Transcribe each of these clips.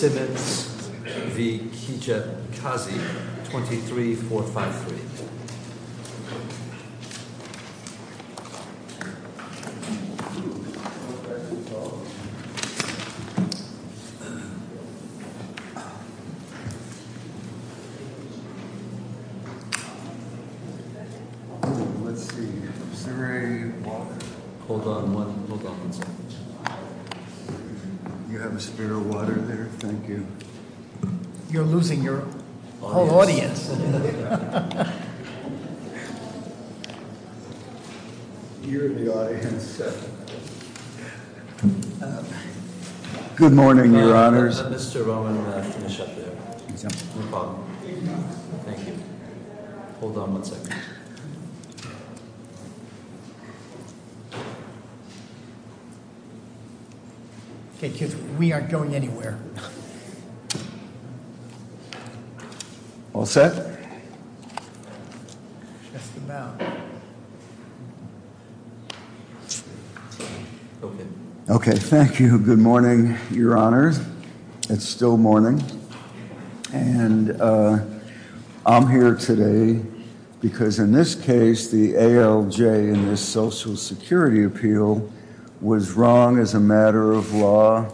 23.453 Hold on one second, you have a spear of water there, thank you. You're losing your whole audience. You're in the audience. Good morning, your honors. Okay, kids, we aren't going anywhere. All set? Okay, thank you. Good morning, your honors. It's still morning and I'm here today because in this case, the ALJ in this Social Security Appeal was wrong as a matter of law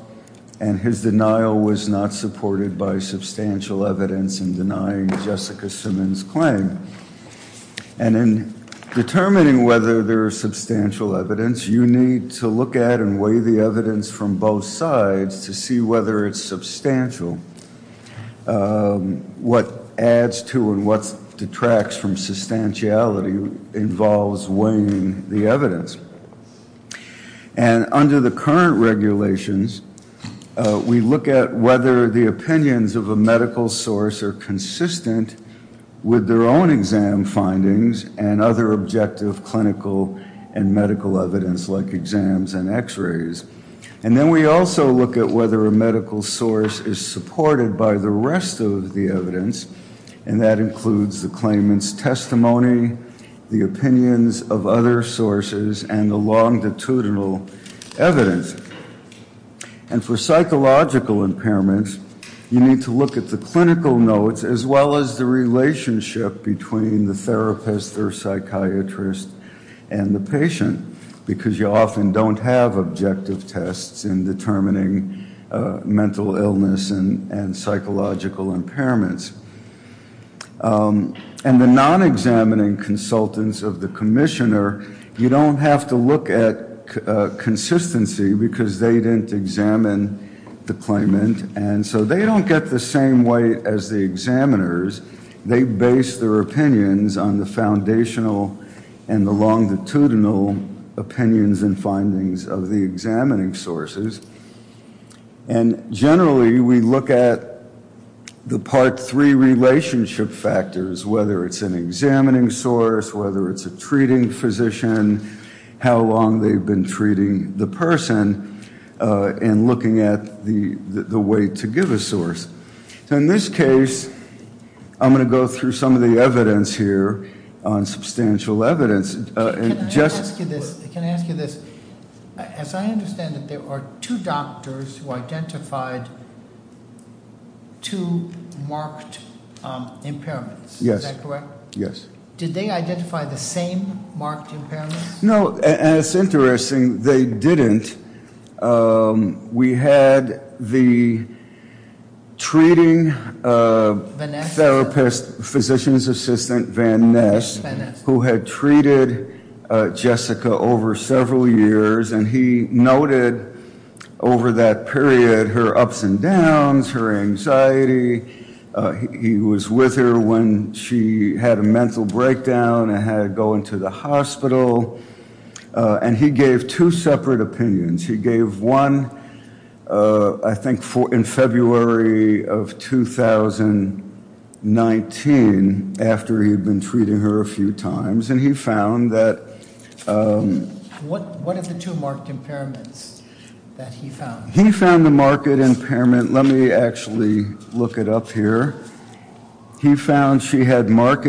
and his denial was not supported by substantial evidence in denying Jessica Simmons' claim. And in determining whether there is substantial evidence, you need to look at and weigh the evidence from both sides to see whether it's substantial. What adds to and what detracts from substantiality involves weighing the evidence. And under the current regulations, we look at whether the opinions of a medical source are consistent with their own exam findings and other objective clinical and medical evidence like exams and x-rays. And then we also look at whether a medical source is supported by the rest of the evidence, and that includes the claimant's testimony, the opinions of other sources, and the longitudinal evidence. And for psychological impairments, you need to look at the clinical notes as well as the relationship between the therapist or psychiatrist and the patient because you often don't have objective tests in determining mental illness and psychological impairments. And the non-examining consultants of the commissioner, you don't have to look at consistency because they didn't examine the same way as the examiners. They based their opinions on the foundational and the longitudinal opinions and findings of the examining sources. And generally, we look at the part three relationship factors, whether it's an examining source, whether it's a treating physician, how long they've been treating the person, and looking at the way to give a So in this case, I'm going to go through some of the evidence here on substantial evidence. Can I ask you this? As I understand it, there are two doctors who identified two marked impairments. Is that correct? Yes. Did they identify the same marked impairments? No. And it's treating therapist, physician's assistant, Van Ness, who had treated Jessica over several years and he noted over that period her ups and downs, her anxiety. He was with her when she had a mental breakdown and had to go into the hospital. And he gave two separate opinions. He gave one, I think, in February of 2019, after he'd been treating her a few times. And he found that... What are the two marked impairments that he found? He found the marked impairment, let me actually look it up here. He found she had marked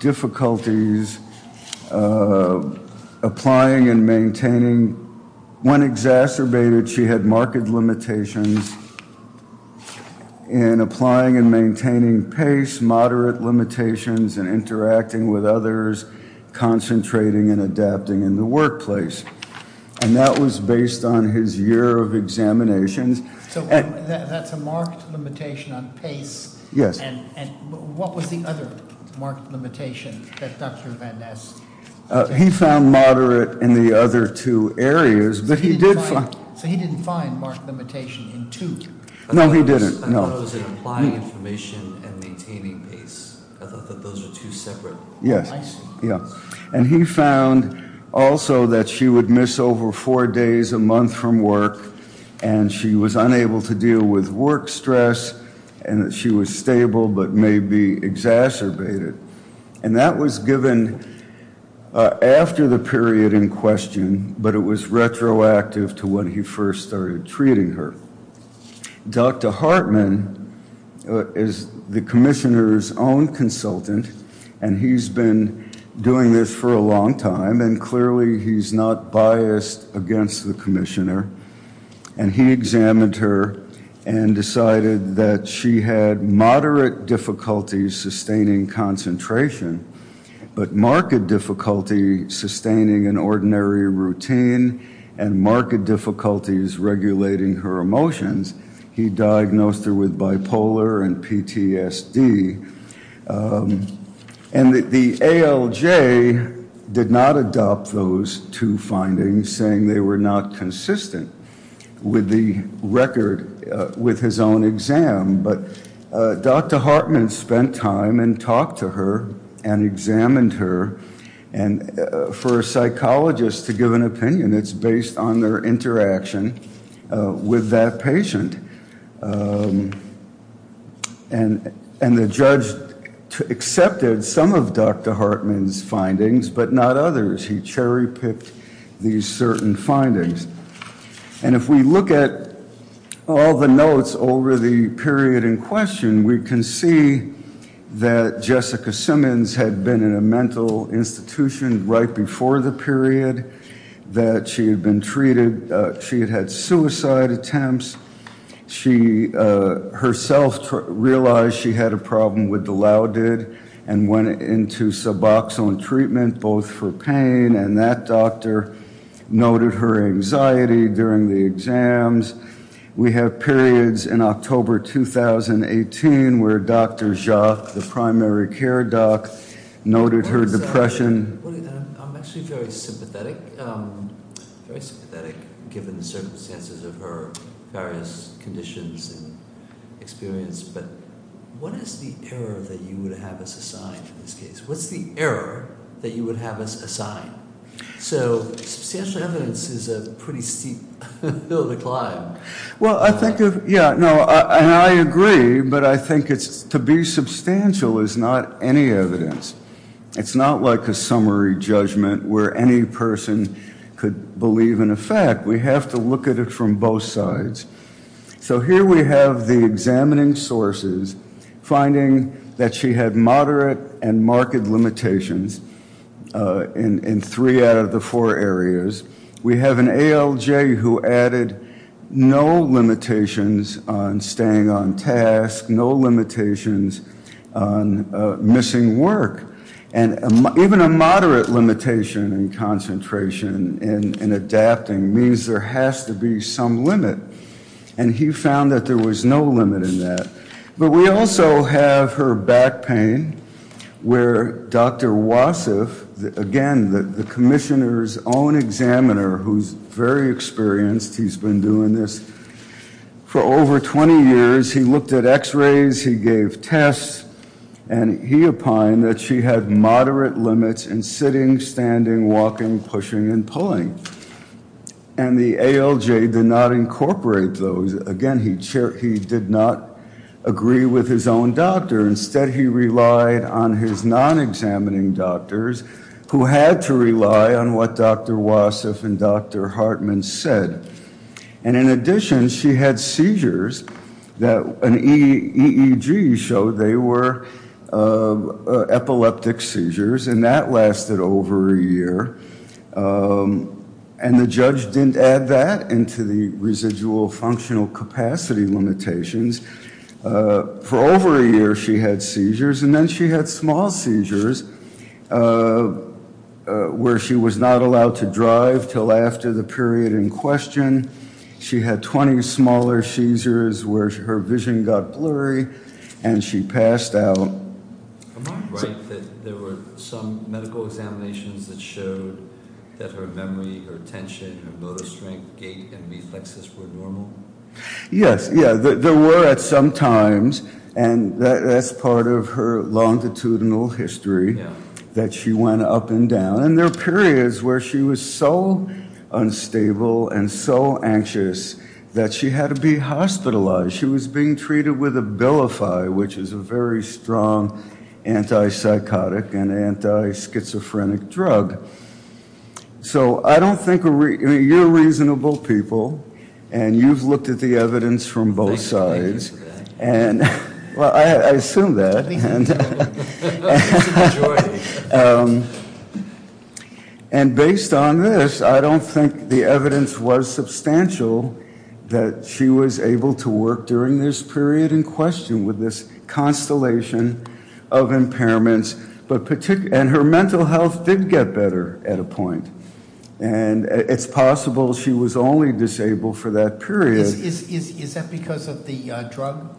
difficulties applying and maintaining pace, moderate limitations in interacting with others, concentrating and adapting in the workplace. And that was based on his year of examinations. So that's a marked limitation on pace. Yes. And what was the other marked limitation that Dr. Van Ness... He found moderate in the other two areas, but he did find... So he didn't find marked limitation in two? No, he didn't. No. I thought it was in applying information and maintaining pace. I thought that those were two separate... Yes. I see. Yeah. And he found also that she would miss over four days a month from work and she was unable to deal with work stress and that she was stable but maybe exacerbated. And that was given after the period in question, but it was retroactive to when he first started treating her. Dr. Hartman is the commissioner's own consultant and he's been doing this for a long time and clearly he's not biased against the commissioner. And he examined her and decided that she had moderate difficulties sustaining concentration but marked difficulty sustaining an ordinary routine and marked difficulties regulating her emotions. He diagnosed her with bipolar and PTSD. And the ALJ did not adopt those two findings, saying they were not consistent with the record with his own exam. But Dr. Hartman spent time and talked to her and examined her. And for a psychologist to give an opinion, it's based on their interaction with that patient. And the judge accepted some of Dr. Hartman's findings but not others. He cherry findings. And if we look at all the notes over the period in question, we can see that Jessica Simmons had been in a mental institution right before the period that she had been treated. She had had suicide attempts. She herself realized she had a problem with the Laudid and went into suboxone treatment both for pain and that doctor noted her anxiety during the exams. We have periods in October 2018 where Dr. Jacques, the primary care doc, noted her depression. I'm actually very sympathetic, very sympathetic given the circumstances of her various conditions and experience. But what is the error that you would have us assign in this case? What's the error that you would have us assign? So substantial evidence is a pretty steep hill to climb. Well, I think of, yeah, no, and I agree, but I think it's to be substantial is not any evidence. It's not like a summary judgment where any person could believe in a fact. We have to look at it from both sides. So here we have the examining sources finding that she had moderate and marked limitations in three out of the four areas. We have an ALJ who added no limitations on staying on task, no limitations on missing work. And even a moderate limitation and concentration in adapting means there has to be some limit. And he found that there was no limit in that. But we also have her back pain where Dr. Wasif, again, the commissioner's own examiner who's very experienced, he's been doing this for over 20 years, he looked at x-rays, he gave tests, and he opined that she had moderate limits in sitting, standing, walking, pushing, and pulling. And the ALJ did not incorporate those. Again, he did not agree with his own doctor. Instead, he relied on his non-examining doctors who had to rely on what Dr. Wasif and Dr. Hartman said. And in addition, she had seizures that an EEG showed they were epileptic seizures, and that lasted over a year. And the judge didn't add that into the residual functional capacity limitations. For over a year she had seizures, and then she had small seizures where she was not allowed to drive till after the period in question. She had 20 smaller seizures where her vision got blurry, and she passed out. Am I right that there were some medical examinations that showed that her memory, her attention, her motor strength, gait, and reflexes were normal? Yes, yeah, there were at some times, and that's part of her longitudinal history, that she went up and down. And there were periods where she was so unstable and so anxious that she had to be hospitalized. She was being treated with Abilify, which is a very strong anti-psychotic and anti-schizophrenic drug. So I don't think, you're reasonable people, and you've looked at the evidence from both sides. And based on this, I don't think the evidence was substantial that she was able to work during this period in question with this constellation of impairments. And her mental health did get better at a point. And it's possible she was only disabled for that period. Is that because of the drug?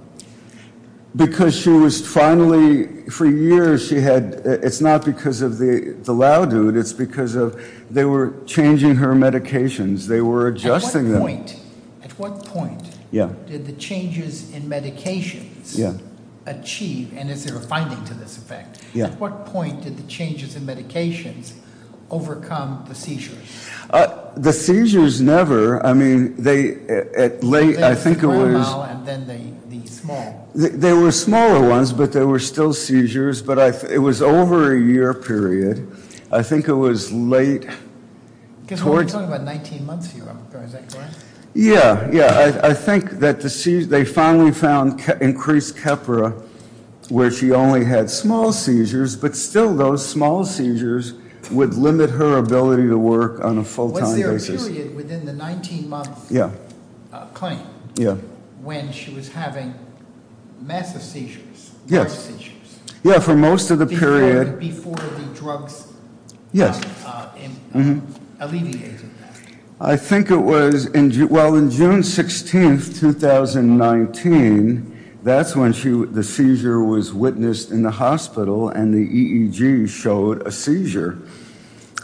Because she was finally, for years she had, it's not because of the Laudu, it's because of they were changing her medications, they were adjusting them. At what point, at what point did the changes in medications achieve, and is there a finding to this effect? At what point did the changes in medications overcome the seizures? The seizures never. I mean, they, at late, I think it was, So there's the normal and then the small. There were smaller ones, but there were still seizures. But it was over a year period. I think it was late, towards We're talking about 19 months here, is that correct? Yeah, yeah. I think that they finally found increased Keppra, where she only had small seizures, but still those small seizures would limit her ability to work on a full-time basis. Was there a period within the 19-month claim when she was having massive seizures, large seizures? Yeah, for most of the period. Before the drugs alleviated that. I think it was, well, in June 16th, 2019, that's when she, the seizure was witnessed in the hospital and the EEG showed a seizure.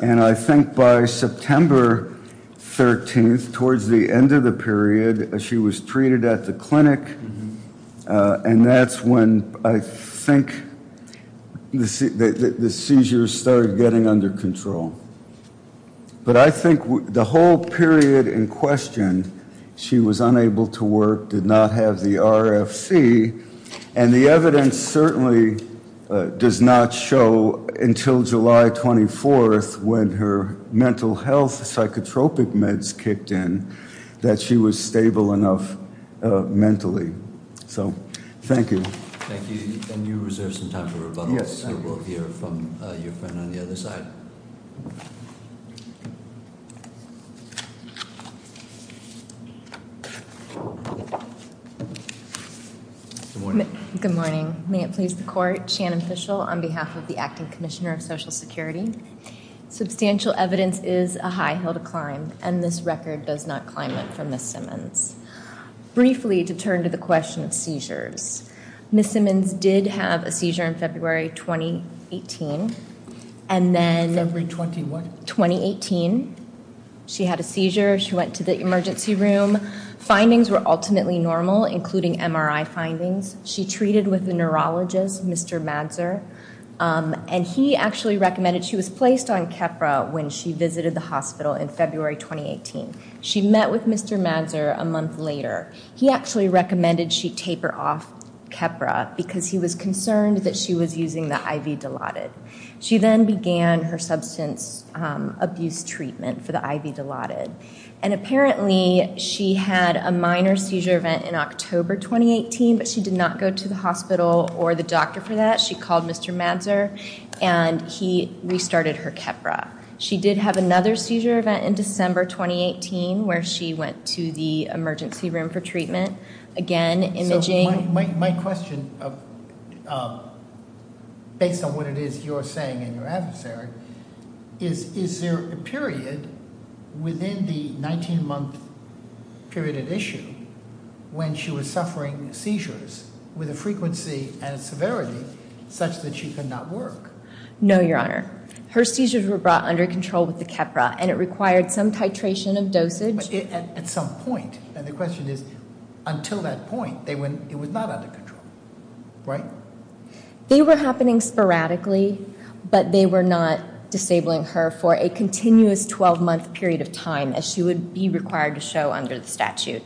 And I think by September 13th, towards the end of the period, she was treated at the clinic, and that's when I think the seizures started getting under control. But I think the whole period in question, she was unable to work, did not have the RFC, and the evidence certainly does not show until July 24th, when her mental health, psychotropic meds kicked in, that she was stable enough mentally. So, thank you. Thank you. And you reserve some time for rebuttals. Yes. We'll hear from your friend on the other side. Good morning. Good morning. May it please the court, Shannon Fischel on behalf of the Acting Commissioner of Social Security. Substantial evidence is a high hill to climb, and this record does not climb it for Ms. Simmons. Briefly, to turn to the question of seizures, Ms. Simmons did have a seizure in February 2018, and then... February 21? 2018. She had a seizure. She went to the emergency room. Findings were ultimately normal, including MRI findings. She treated with a neurologist, Mr. Madzer, and he actually recommended she was placed on Keppra when she visited the hospital in February 2018. She met with Mr. Madzer a month later. He actually recommended she taper off Keppra because he was concerned that she was using the IV Dilaudid. She then began her substance abuse treatment for the IV Dilaudid, and apparently she had a minor seizure event in October 2018, but she did not go to the hospital or the doctor for that. She called Mr. Madzer, and he restarted her Keppra. She did have another seizure event in December 2018, where she went to the emergency room for treatment. Again, imaging... My question, based on what it is you're saying and your adversary, is there a period within the 19-month period of issue when she was suffering seizures with a frequency and a severity such that she could not work? No, Your Honor. Her seizures were brought under control with the Keppra, and it required some titration of dosage. But at some point, and the question is, until that point, it was not under control, right? They were happening sporadically, but they were not disabling her for a continuous 12-month period of time, as she would be required to show under the statute.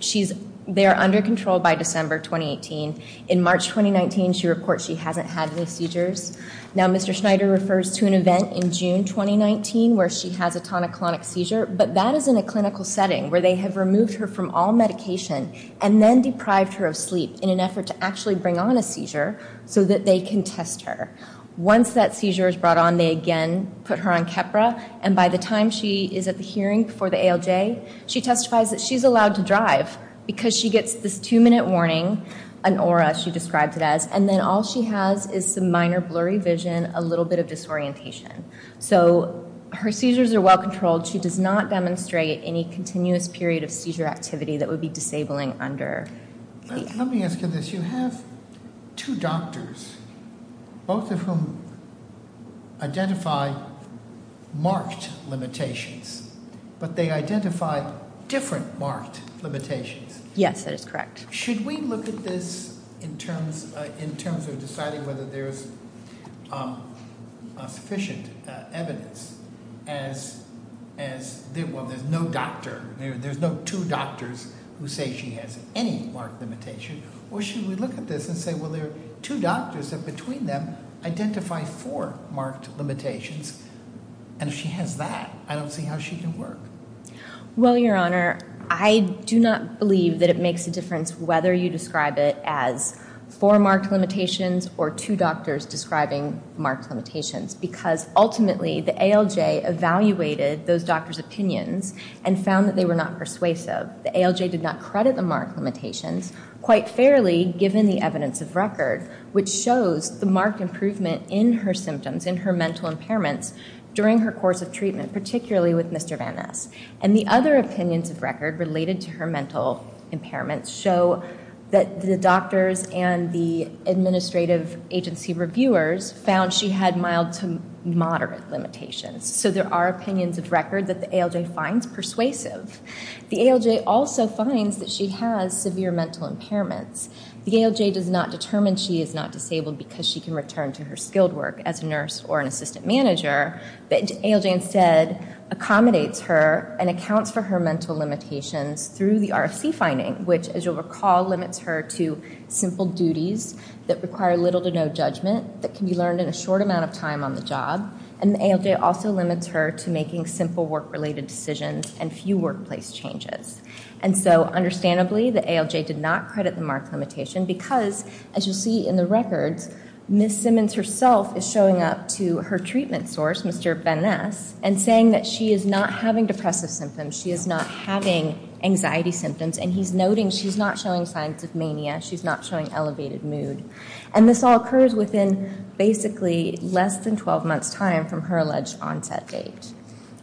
They are under control by December 2018. In March 2019, she reports she hasn't had any seizures. Now, Mr. Schneider refers to an event in June 2019 where she has a tonic-clonic seizure, but that is in a clinical setting where they have removed her from all medication and then deprived her of sleep in an effort to actually bring on a seizure so that they can test her. Once that seizure is brought on, they again put her on Keppra, and by the time she is at the hearing for the ALJ, she testifies that she's allowed to drive because she gets this two-minute warning, an aura, she describes it as, and then all she has is some minor blurry vision, a little bit of disorientation. So her seizures are well controlled. She does not demonstrate any continuous period of seizure activity that would be disabling under. Let me ask you this. You have two doctors, both of whom identify marked limitations, but they identify different marked limitations. Yes, that is correct. Should we look at this in terms of deciding whether there's sufficient evidence as, well, there's no doctor, there's no two doctors who say she has any marked limitation, or should we look at this and say, well, there are two doctors that between them identify four marked limitations, and if she has that, I don't see how she can work. Well, Your Honor, I do not believe that it makes a difference whether you describe it as four marked limitations or two doctors describing marked limitations, because ultimately the ALJ evaluated those doctors' opinions and found that they were not persuasive. The ALJ did not credit the marked limitations quite fairly, given the evidence of record, which shows the marked improvement in her symptoms, in her mental impairments during her course of treatment, particularly with Mr. Van Ness. And the other opinions of record related to her mental impairments show that the doctors and the administrative agency reviewers found she had mild to moderate limitations. So there are opinions of record that the ALJ finds persuasive. The ALJ also finds that she has severe mental impairments. The ALJ does not determine she is not disabled because she can return to her skilled work as a nurse or an assistant manager, but the ALJ instead accommodates her and accounts for her mental limitations through the RFC finding, which, as you'll recall, limits her to simple duties that require little to no judgment that can be learned in a short amount of time on the job. And the ALJ also limits her to making simple work-related decisions and few workplace changes. And so understandably, the ALJ did not credit the marked limitation because, as you see in the records, Ms. Simmons herself is showing up to her treatment source, Mr. Van Ness, and saying that she is not having depressive symptoms, she is not having anxiety symptoms, and he's noting she's not showing signs of mania, she's not showing elevated mood. And this all occurs within basically less than 12 months' time from her alleged onset date.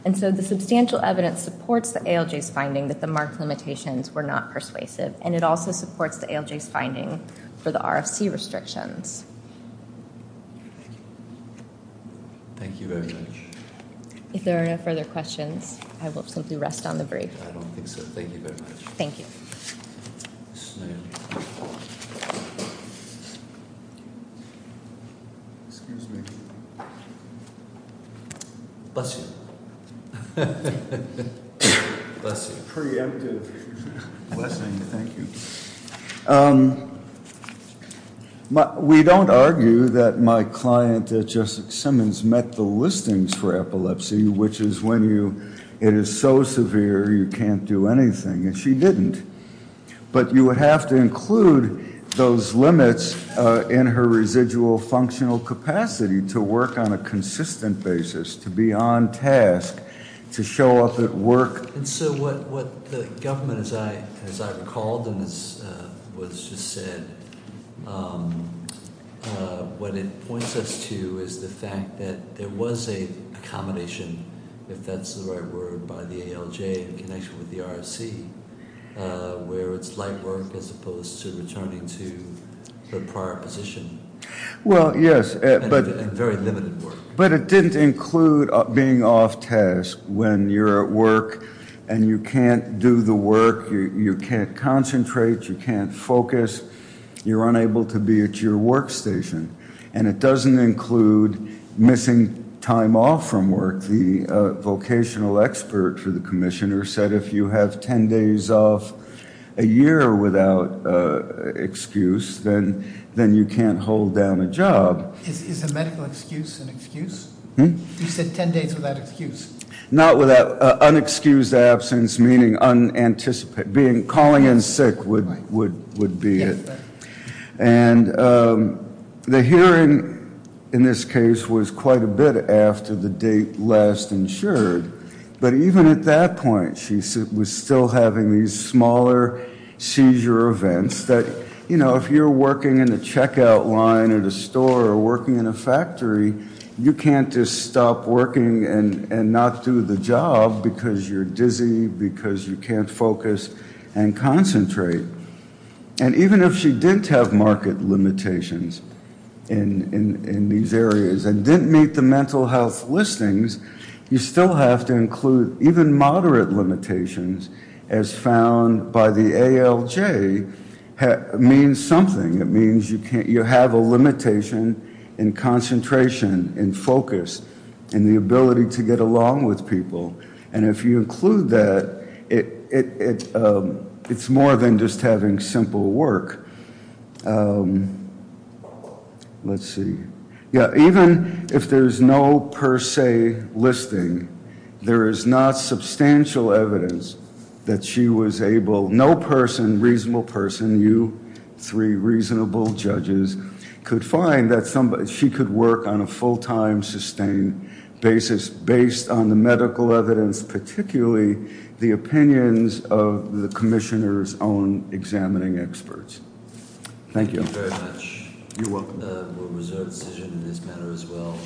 And so the substantial evidence supports the ALJ's finding that the marked limitations were not persuasive, and it also supports the ALJ's finding for the RFC restrictions. Thank you very much. If there are no further questions, I will simply rest on the We don't argue that my client, Jessica Simmons, met the listings for epilepsy, which is when you it is so severe you can't do anything, and she didn't. But you would have to include those limits in her residual functional capacity to work on a consistent basis, to be on task, to show up at work. And so what the government, as I recalled, and as was just said, what it points us to is the fact that there was a accommodation, if that's the right word, by the ALJ in connection with the RFC, where it's light work as opposed to returning to her prior position. Well, yes. And very limited work. But it didn't include being off task when you're at work and you can't do the work, you can't concentrate, you can't focus, you're unable to be at your workstation. And it doesn't include missing time off from work. The vocational expert for the commissioner said if you have 10 days off a year without excuse, then you can't hold down a job. Is a medical excuse an excuse? You said 10 days without excuse. Not without unexcused absence, meaning unanticipated, being calling in sick would be it. And the hearing in this case was quite a bit after the date last insured. But even at that point, she was still having these smaller seizure events that, you know, if you're working in a checkout line at a store or working in a factory, you can't just stop working and not do the job because you're dizzy, because you can't focus and concentrate. And even if she didn't have market limitations in these areas and didn't meet the mental health listings, you still have to include even moderate limitations as found by the ALJ means something. It means you have a limitation in concentration, in focus, in the ability to get along with people. And if you include that, it's more than just having simple work. Let's see. Yeah, even if there's no per se listing, there is not substantial evidence that she was able, no person, reasonable person, you, three reasonable judges, could find that she could work on a full-time sustained basis based on the medical evidence, particularly the opinions of the commissioner's own examining experts. Thank you. Thank you very much. You're welcome. We'll reserve the decision in this matter as well.